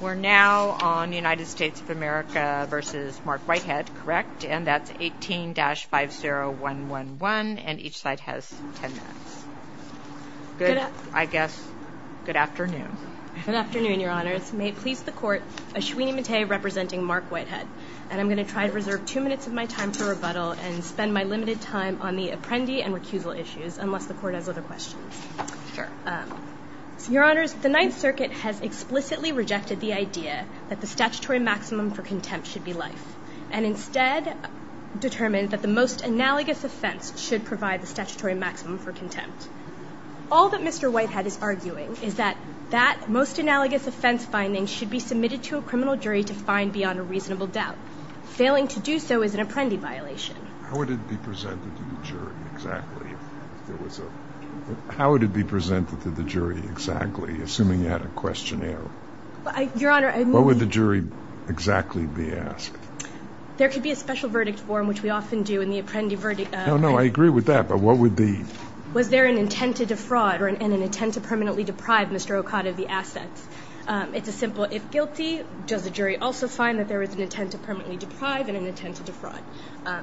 We're now on United States of America v. Mark Whitehead, correct? And that's 18-50111, and each side has 10 minutes. Good, I guess, good afternoon. Good afternoon, Your Honors. May it please the Court, Ashwini Mate representing Mark Whitehead. And I'm going to try to reserve two minutes of my time for rebuttal and spend my limited time on the apprendee and recusal issues, unless the Court has other questions. Sure. Your Honors, the Ninth Circuit has explicitly rejected the idea that the statutory maximum for contempt should be life, and instead determined that the most analogous offense should provide the statutory maximum for contempt. All that Mr. Whitehead is arguing is that that most analogous offense finding should be submitted to a criminal jury to find beyond a reasonable doubt. Failing to do so is an apprendee violation. How would it be presented to the jury exactly, assuming you had a questionnaire? Your Honor, I mean- What would the jury exactly be asked? There could be a special verdict form, which we often do in the apprendee verdict- No, no, I agree with that, but what would the- Was there an intent to defraud and an intent to permanently deprive Mr. Okada of the assets? It's a simple, if guilty, does the jury also find that there is an intent to permanently deprive and an intent to defraud?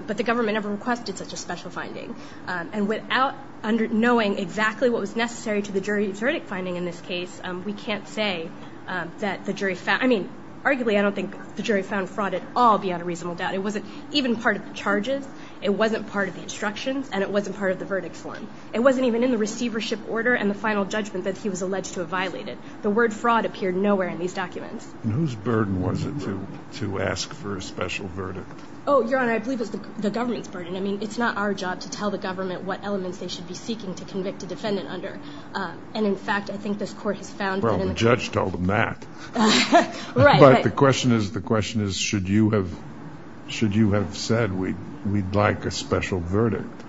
But the government never requested such a special finding, and without knowing exactly what was necessary to the jury's verdict finding in this case, we can't say that the jury found- I mean, arguably, I don't think the jury found fraud at all beyond a reasonable doubt. It wasn't even part of the charges, it wasn't part of the instructions, and it wasn't part of the verdict form. It wasn't even in the receivership order and the final judgment that he was alleged to have violated. The word fraud appeared nowhere in these documents. And whose burden was it to ask for a special verdict? Oh, Your Honor, I believe it was the government's burden. I mean, it's not our job to tell the government what elements they should be seeking to convict a defendant under. And, in fact, I think this court has found that- Well, the judge told them that. Right, right. But the question is, the question is, should you have said we'd like a special verdict?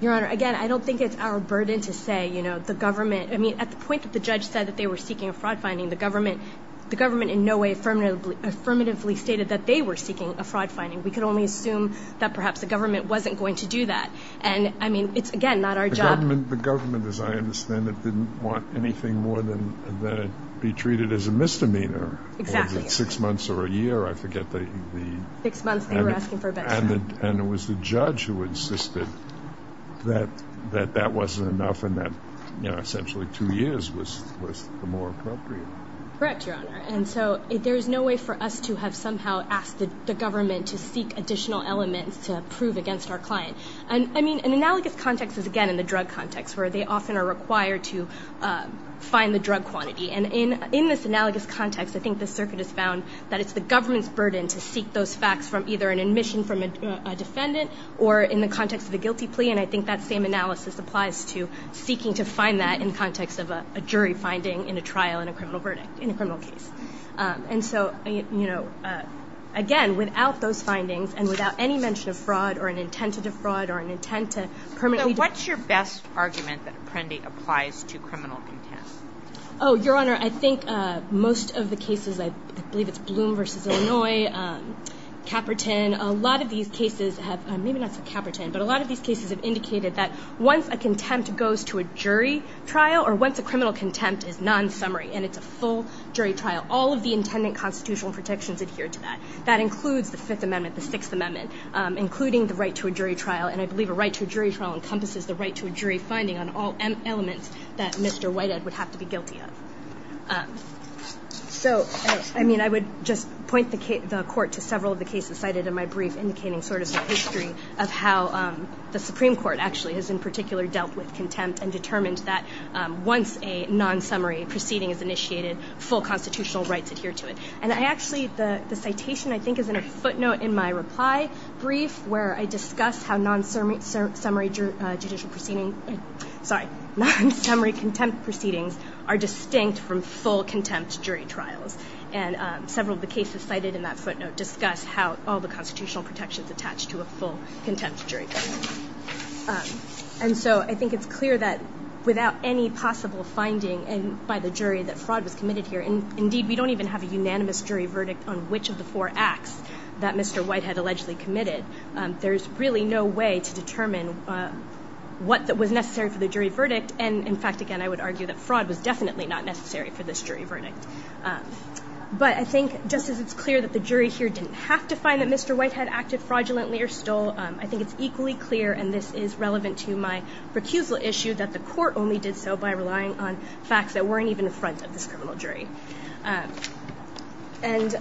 Your Honor, again, I don't think it's our burden to say, you know, the government- I mean, at the point that the judge said that they were seeking a fraud finding, the government in no way affirmatively stated that they were seeking a fraud finding. We could only assume that perhaps the government wasn't going to do that. And, I mean, it's, again, not our job. The government, as I understand it, didn't want anything more than to be treated as a misdemeanor. Exactly. Whether it's six months or a year, I forget the- Six months, they were asking for a better term. And it was the judge who insisted that that wasn't enough and that, you know, essentially two years was the more appropriate. Correct, Your Honor. And so there is no way for us to have somehow asked the government to seek additional elements to prove against our client. And, I mean, an analogous context is, again, in the drug context where they often are required to find the drug quantity. And in this analogous context, I think the circuit has found that it's the government's burden to seek those facts from either an admission from a defendant or in the context of a guilty plea. And I think that same analysis applies to seeking to find that in the context of a jury finding in a trial in a criminal verdict, in a criminal case. And so, you know, again, without those findings and without any mention of fraud or an intent to defraud or an intent to permanently- So what's your best argument that Apprendi applies to criminal contempt? Oh, Your Honor, I think most of the cases, I believe it's Bloom v. Illinois, Caperton. A lot of these cases have, maybe not so Caperton, but a lot of these cases have indicated that once a contempt goes to a jury trial or once a criminal contempt is non-summary and it's a full jury trial, all of the intended constitutional protections adhere to that. That includes the Fifth Amendment, the Sixth Amendment, including the right to a jury trial. And I believe a right to a jury trial encompasses the right to a jury finding on all elements that Mr. Whitehead would have to be guilty of. So, I mean, I would just point the court to several of the cases cited in my brief, indicating sort of the history of how the Supreme Court actually has in particular dealt with contempt and determined that once a non-summary proceeding is initiated, full constitutional rights adhere to it. And I actually, the citation I think is in a footnote in my reply brief where I discuss how non-summary judicial proceedings, sorry, non-summary contempt proceedings are distinct from full contempt jury trials. And several of the cases cited in that footnote discuss how all the constitutional protections attach to a full contempt jury trial. And so I think it's clear that without any possible finding by the jury that fraud was committed here, and indeed we don't even have a unanimous jury verdict on which of the four acts that Mr. Whitehead allegedly committed, there's really no way to determine what was necessary for the jury verdict. And, in fact, again, I would argue that fraud was definitely not necessary for this jury verdict. But I think just as it's clear that the jury here didn't have to find that Mr. Whitehead acted fraudulently or stole, I think it's equally clear, and this is relevant to my recusal issue, that the court only did so by relying on facts that weren't even in front of this criminal jury. And,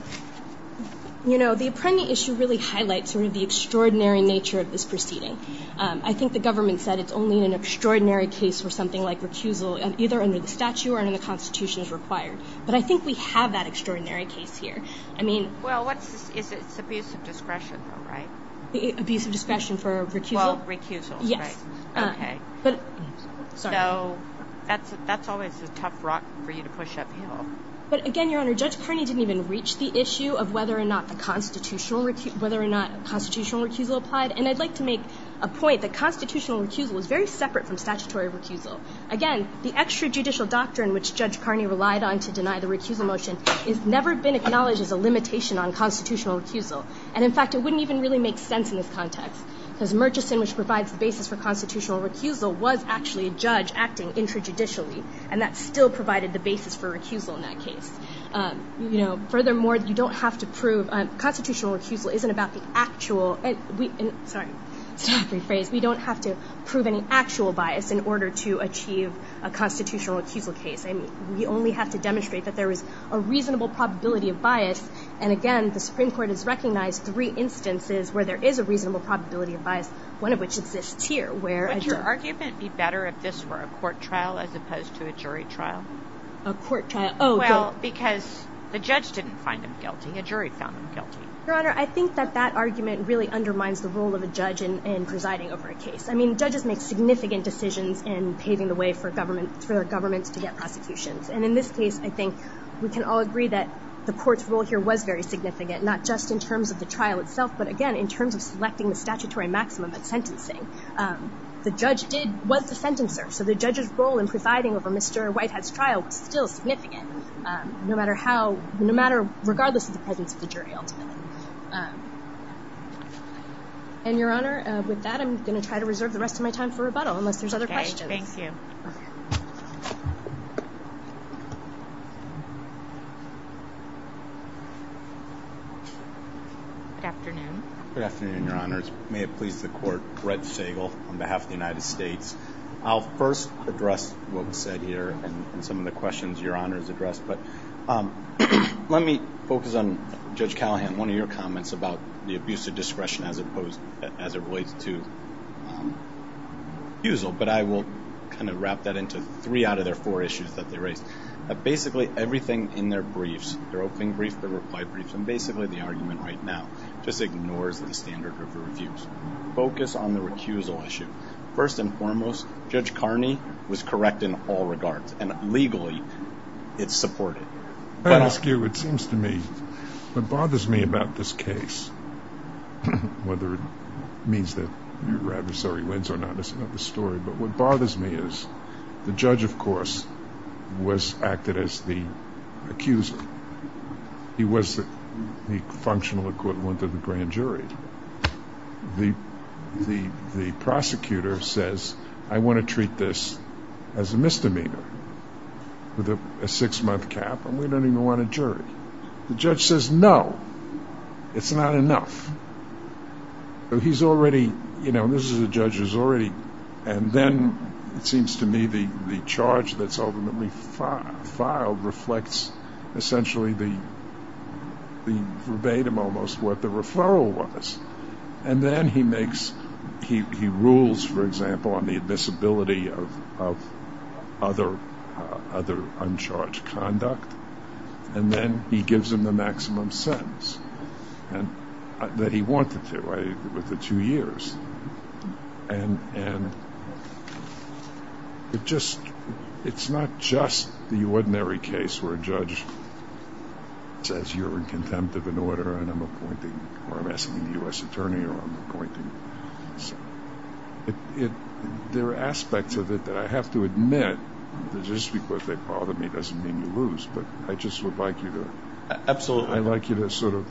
you know, the Apprendi issue really highlights sort of the extraordinary nature of this proceeding. I think the government said it's only in an extraordinary case where something like recusal, either under the statute or under the Constitution, is required. But I think we have that extraordinary case here. I mean – Well, what is its abuse of discretion though, right? Abuse of discretion for recusal? Well, recusal, right. Yes. Okay. Sorry. So that's always a tough rock for you to push uphill. But, again, Your Honor, Judge Carney didn't even reach the issue of whether or not constitutional recusal applied. And I'd like to make a point that constitutional recusal is very separate from statutory recusal. Again, the extrajudicial doctrine which Judge Carney relied on to deny the recusal motion has never been acknowledged as a limitation on constitutional recusal. And, in fact, it wouldn't even really make sense in this context because Murchison, which provides the basis for constitutional recusal, was actually a judge acting extrajudicially, and that still provided the basis for recusal in that case. You know, furthermore, you don't have to prove – constitutional recusal isn't about the actual – sorry, statutory phrase – we don't have to prove any actual bias in order to achieve a constitutional recusal case. We only have to demonstrate that there is a reasonable probability of bias. And, again, the Supreme Court has recognized three instances where there is a reasonable probability of bias, one of which exists here. Would your argument be better if this were a court trial as opposed to a jury trial? A court trial? Oh, good. Well, because the judge didn't find him guilty. A jury found him guilty. Your Honor, I think that that argument really undermines the role of a judge in presiding over a case. I mean, judges make significant decisions in paving the way for governments to get prosecutions. And, in this case, I think we can all agree that the court's role here was very significant, not just in terms of the trial itself, but, again, in terms of selecting the statutory maximum at sentencing. The judge did – was the sentencer. So the judge's role in presiding over Mr. Whitehead's trial was still significant, no matter how – no matter – regardless of the presence of the jury, ultimately. And, Your Honor, with that, I'm going to try to reserve the rest of my time for rebuttal, unless there's other questions. Okay. Thank you. Okay. Good afternoon. Good afternoon, Your Honors. May it please the Court. Brett Sagel on behalf of the United States. I'll first address what was said here and some of the questions Your Honors addressed. But let me focus on, Judge Callahan, one of your comments about the abuse of discretion as opposed – as it relates to refusal. But I will kind of wrap that into three out of their four issues that they raised. Basically, everything in their briefs, their opening brief, their reply brief, and basically the argument right now just ignores the standard of the refuse. Focus on the recusal issue. First and foremost, Judge Carney was correct in all regards. And legally, it's supported. I'll ask you, it seems to me, what bothers me about this case, whether it means that your adversary wins or not is another story, but what bothers me is the judge, of course, was – acted as the accuser. He was the functional equivalent of the grand jury. The prosecutor says, I want to treat this as a misdemeanor with a six-month cap, and we don't even want a jury. The judge says, no, it's not enough. He's already – this is a judge who's already – and then it seems to me the charge that's ultimately filed reflects essentially the verbatim almost what the referral was. And then he makes – he rules, for example, on the admissibility of other uncharged conduct, and then he gives him the maximum sentence that he wanted to with the two years. And it just – it's not just the ordinary case where a judge says you're in contempt of an order and I'm appointing – or I'm asking the U.S. attorney or I'm appointing. There are aspects of it that I have to admit that just because they bother me doesn't mean you lose. But I just would like you to – Absolutely. I'd like you to sort of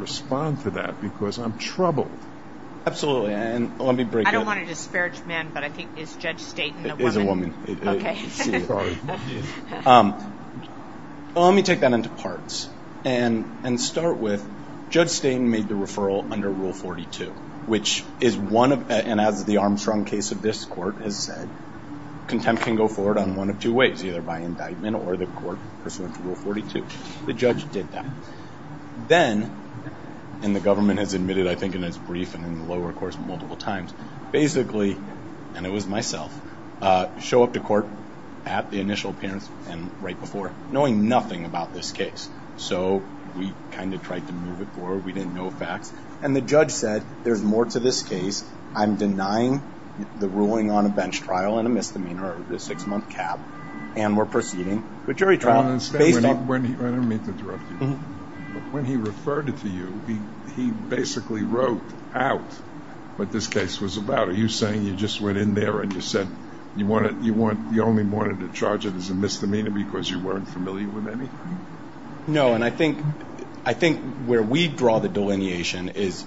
respond to that because I'm troubled. Absolutely. And let me break it. I don't want to disparage men, but I think it's Judge Staten, the woman. It is a woman. Okay. Let me take that into parts and start with Judge Staten made the referral under Rule 42, which is one of – and as the Armstrong case of this court has said, contempt can go forward on one of two ways, either by indictment or the court pursuant to Rule 42. The judge did that. Then – and the government has admitted, I think, in its brief and in the lower course multiple times – basically – and it was myself – show up to court at the initial appearance and right before, knowing nothing about this case. So we kind of tried to move it forward. We didn't know facts. And the judge said, there's more to this case. I'm denying the ruling on a bench trial and a misdemeanor, a six-month cap, and we're proceeding with jury trial. I don't mean to interrupt you. When he referred it to you, he basically wrote out what this case was about. Are you saying you just went in there and you said you only wanted to charge it as a misdemeanor because you weren't familiar with anything? No, and I think where we draw the delineation is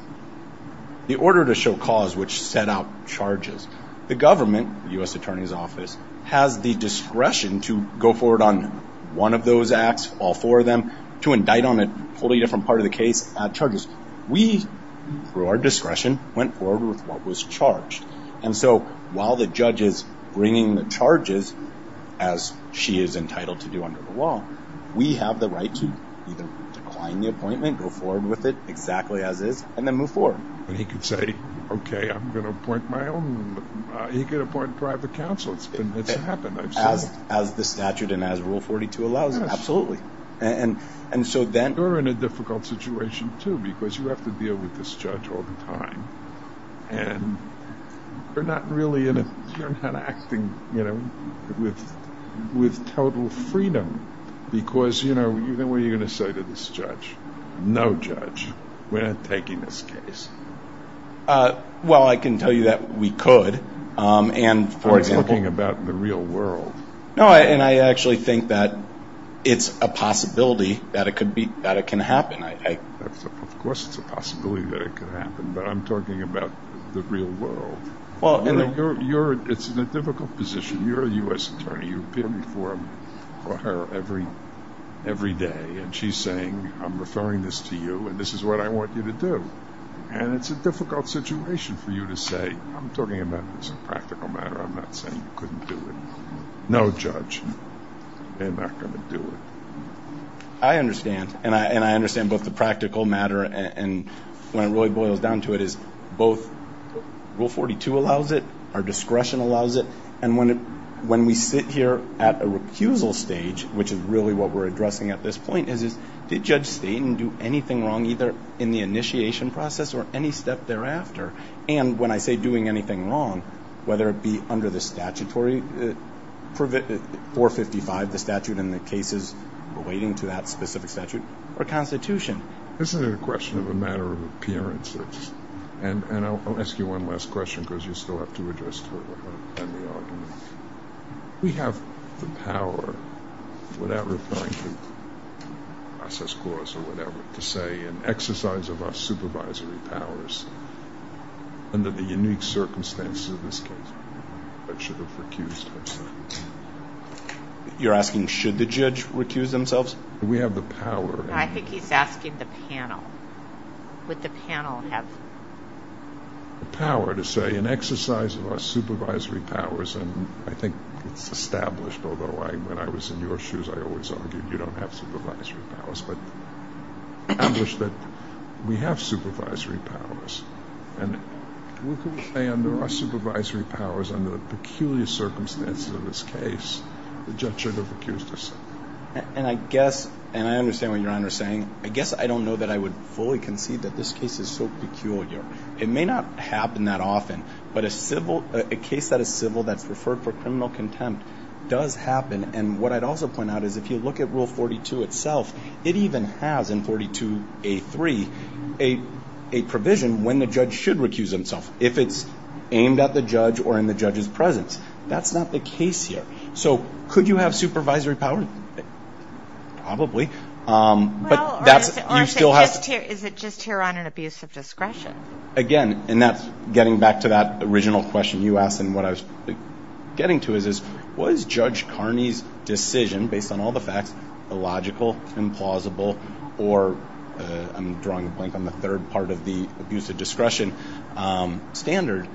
the order to show cause which set out charges. The government, the U.S. Attorney's Office, has the discretion to go forward on one of those acts, all four of them, to indict on a wholly different part of the case, add charges. We, through our discretion, went forward with what was charged. And so while the judge is bringing the charges, as she is entitled to do under the law, we have the right to either decline the appointment, go forward with it exactly as is, and then move forward. He could say, okay, I'm going to appoint my own. He could appoint private counsel. It's happened, I've seen it. As the statute and as Rule 42 allows it? Yes. Absolutely. You're in a difficult situation, too, because you have to deal with this judge all the time, and you're not acting with total freedom because what are you going to say to this judge? No judge. We're not taking this case. Well, I can tell you that we could. I'm talking about the real world. No, and I actually think that it's a possibility that it can happen. Of course it's a possibility that it could happen, but I'm talking about the real world. It's a difficult position. You're a U.S. attorney. You appear before her every day, and she's saying, I'm referring this to you, and this is what I want you to do. And it's a difficult situation for you to say, I'm talking about this is a practical matter. I'm not saying you couldn't do it. No judge. They're not going to do it. I understand, and I understand both the practical matter and when it really boils down to it is both Rule 42 allows it, our discretion allows it, and when we sit here at a recusal stage, which is really what we're addressing at this point, is did Judge Staten do anything wrong either in the initiation process or any step thereafter? And when I say doing anything wrong, whether it be under the statutory 455, the statute in the cases relating to that specific statute, or Constitution. And I'll ask you one last question because you still have to address the argument. We have the power, without referring to process clause or whatever, to say an exercise of our supervisory powers under the unique circumstances of this case, that should have recused herself. You're asking should the judge recuse themselves? We have the power. I think he's asking the panel. Would the panel have the power to say an exercise of our supervisory powers, and I think it's established, although when I was in your shoes I always argued you don't have supervisory powers, but established that we have supervisory powers. And we can say under our supervisory powers under the peculiar circumstances of this case, the judge should have recused herself. And I guess, and I understand what Your Honor is saying, I guess I don't know that I would fully concede that this case is so peculiar. It may not happen that often, but a case that is civil that's referred for criminal contempt does happen. And what I'd also point out is if you look at Rule 42 itself, it even has in 42A3 a provision when the judge should recuse himself, if it's aimed at the judge or in the judge's presence. That's not the case here. So could you have supervisory power? Probably. Well, is it just here on an abuse of discretion? Again, and that's getting back to that original question you asked and what I was getting to is was Judge Carney's decision, based on all the facts, illogical, implausible, or I'm drawing a blank on the third part of the abuse of discretion standard,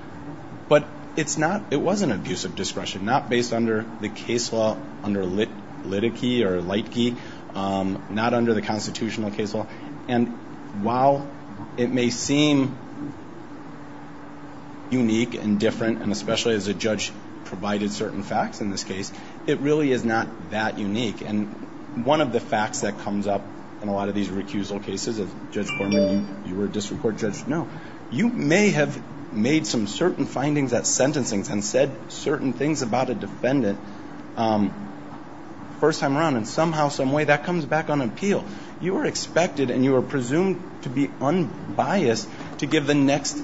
but it's not, it was an abuse of discretion, not based under the case law, under litigy or litigy, not under the constitutional case law. And while it may seem unique and different, and especially as a judge provided certain facts in this case, it really is not that unique. And one of the facts that comes up in a lot of these recusal cases, Judge Foreman, you were a district court judge. No. You may have made some certain findings at sentencing and said certain things about a defendant first time around, and somehow, someway that comes back on appeal. You were expected and you were presumed to be unbiased to give the next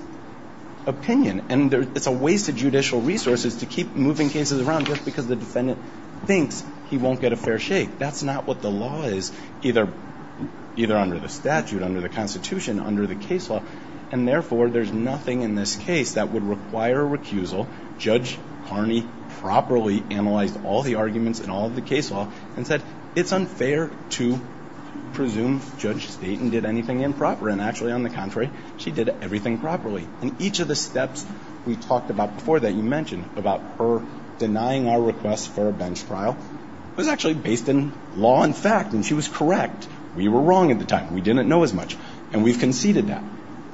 opinion, and it's a waste of judicial resources to keep moving cases around just because the defendant thinks he won't get a fair shake. That's not what the law is, either under the statute, under the constitution, under the case law. And therefore, there's nothing in this case that would require a recusal. Judge Carney properly analyzed all the arguments in all of the case law and said, it's unfair to presume Judge Staten did anything improper, and actually, on the contrary, she did everything properly. And each of the steps we talked about before that you mentioned about her denying our request for a bench trial was actually based in law and fact, and she was correct. We were wrong at the time. We didn't know as much, and we've conceded that.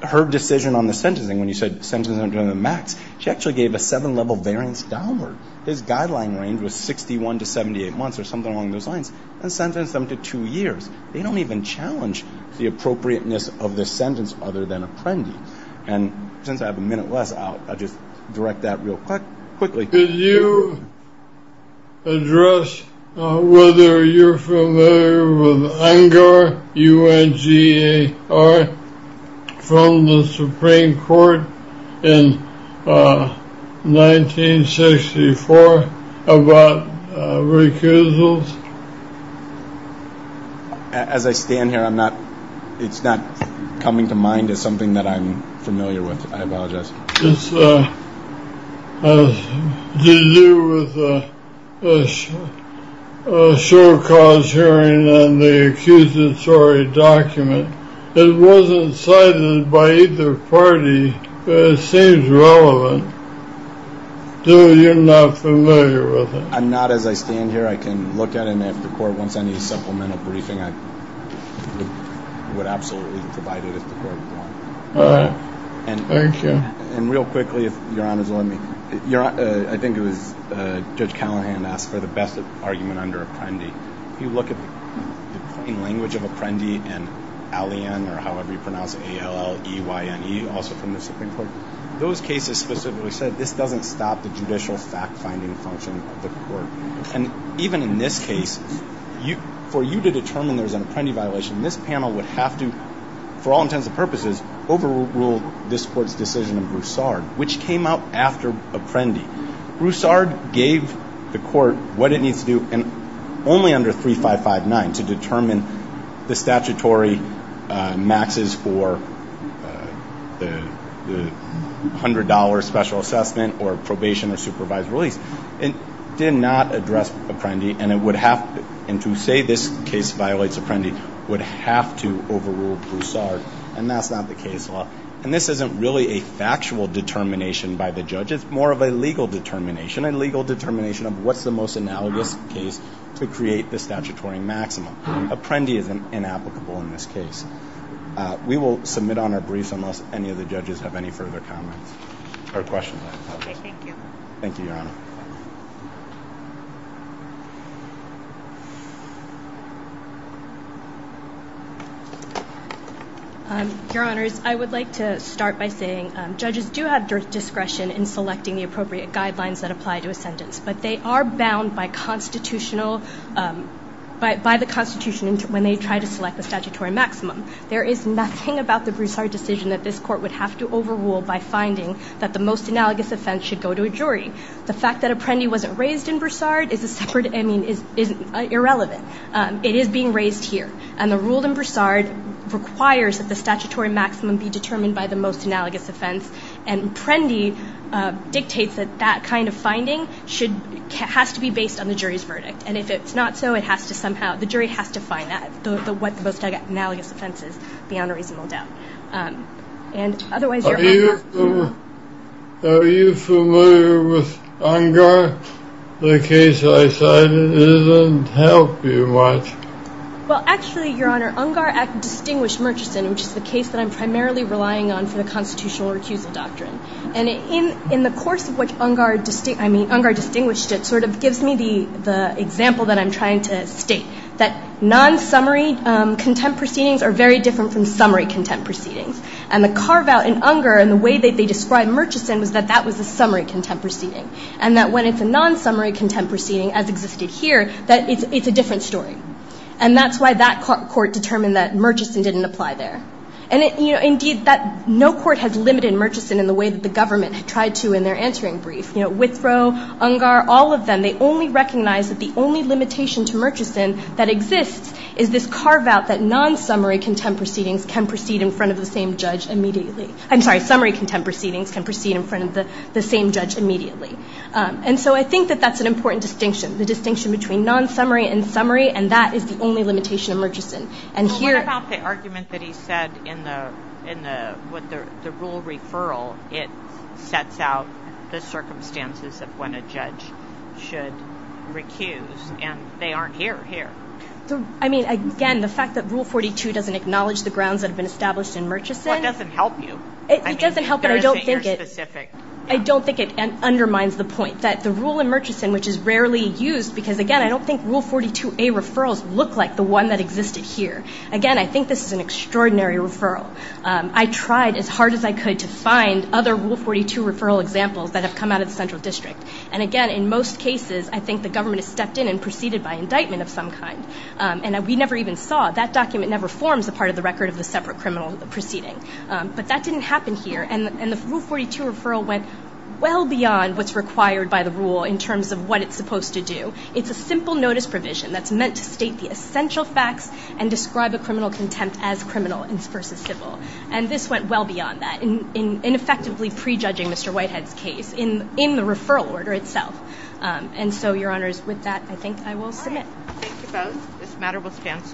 Her decision on the sentencing, when you said sentencing to the max, she actually gave a seven-level variance downward. His guideline range was 61 to 78 months or something along those lines, and sentenced them to two years. They don't even challenge the appropriateness of this sentence other than apprendi. And since I have a minute less, I'll just direct that real quickly. Could you address whether you're familiar with UNGAR, U-N-G-A-R, from the Supreme Court in 1964 about recusals? As I stand here, it's not coming to mind as something that I'm familiar with. It's to do with a short cause hearing on the accusatory document. It wasn't cited by either party, but it seems relevant, though you're not familiar with it. I'm not. As I stand here, I can look at it, and if the court wants any supplemental briefing, I would absolutely provide it if the court wanted. All right. Thank you. And real quickly, if Your Honor's allowing me, I think it was Judge Callahan asked for the best argument under apprendi. If you look at the plain language of apprendi and A-L-E-N or however you pronounce it, A-L-L-E-Y-N-E, also from the Supreme Court, those cases specifically said this doesn't stop the judicial fact-finding function of the court. And even in this case, for you to determine there's an apprendi violation, this panel would have to, for all intents and purposes, overrule this Court's decision of Broussard, which came out after apprendi. Broussard gave the court what it needs to do, and only under 3559 to determine the statutory maxes for the $100 special assessment or probation or supervised release. It did not address apprendi, and to say this case violates apprendi would have to overrule Broussard. And that's not the case law. And this isn't really a factual determination by the judge. It's more of a legal determination, a legal determination of what's the most analogous case to create the statutory maximum. Apprendi is inapplicable in this case. We will submit on our briefs unless any of the judges have any further comments or questions. Okay, thank you. Thank you, Your Honor. Your Honors, I would like to start by saying judges do have discretion in selecting the appropriate guidelines that apply to a sentence, but they are bound by the Constitution when they try to select the statutory maximum. There is nothing about the Broussard decision that this Court would have to overrule by finding that the most analogous offense should go to a jury. The fact that apprendi wasn't raised in Broussard is irrelevant. It is being raised here, and the rule in Broussard requires that the statutory maximum be determined by the most analogous offense, and apprendi dictates that that kind of finding has to be based on the jury's verdict. And if it's not so, the jury has to find what the most analogous offense is beyond a reasonable doubt. Are you familiar with Ungar? The case I cited doesn't help you much. Well, actually, Your Honor, Ungar distinguished Murchison, which is the case that I'm primarily relying on for the constitutional recusal doctrine. And in the course of which Ungar distinguished it sort of gives me the example that I'm trying to state, that non-summary contempt proceedings are very different from summary contempt proceedings. And the carve-out in Ungar and the way that they described Murchison was that that was a summary contempt proceeding, and that when it's a non-summary contempt proceeding as existed here, that it's a different story. And that's why that court determined that Murchison didn't apply there. Indeed, no court has limited Murchison in the way that the government tried to in their answering brief. Withroe, Ungar, all of them, they only recognize that the only limitation to Murchison that exists is this carve-out that non-summary contempt proceedings can proceed in front of the same judge immediately. I'm sorry, summary contempt proceedings can proceed in front of the same judge immediately. And so I think that that's an important distinction, the distinction between non-summary and summary, and that is the only limitation of Murchison. And here at the argument that he said in the rule referral, it sets out the circumstances of when a judge should recuse, and they aren't here. I mean, again, the fact that Rule 42 doesn't acknowledge the grounds that have been established in Murchison. Well, it doesn't help you. It doesn't help, but I don't think it. I don't think it undermines the point that the rule in Murchison, which is rarely used, because, again, I don't think Rule 42A referrals look like the one that existed here. Again, I think this is an extraordinary referral. I tried as hard as I could to find other Rule 42 referral examples that have come out of the central district. And, again, in most cases, I think the government has stepped in and proceeded by indictment of some kind. And we never even saw. That document never forms a part of the record of the separate criminal proceeding. But that didn't happen here. And the Rule 42 referral went well beyond what's required by the rule in terms of what it's supposed to do. It's a simple notice provision that's meant to state the essential facts and describe a criminal contempt as criminal versus civil. And this went well beyond that in effectively prejudging Mr. Whitehead's case in the referral order itself. And so, Your Honors, with that, I think I will submit. Thank you both.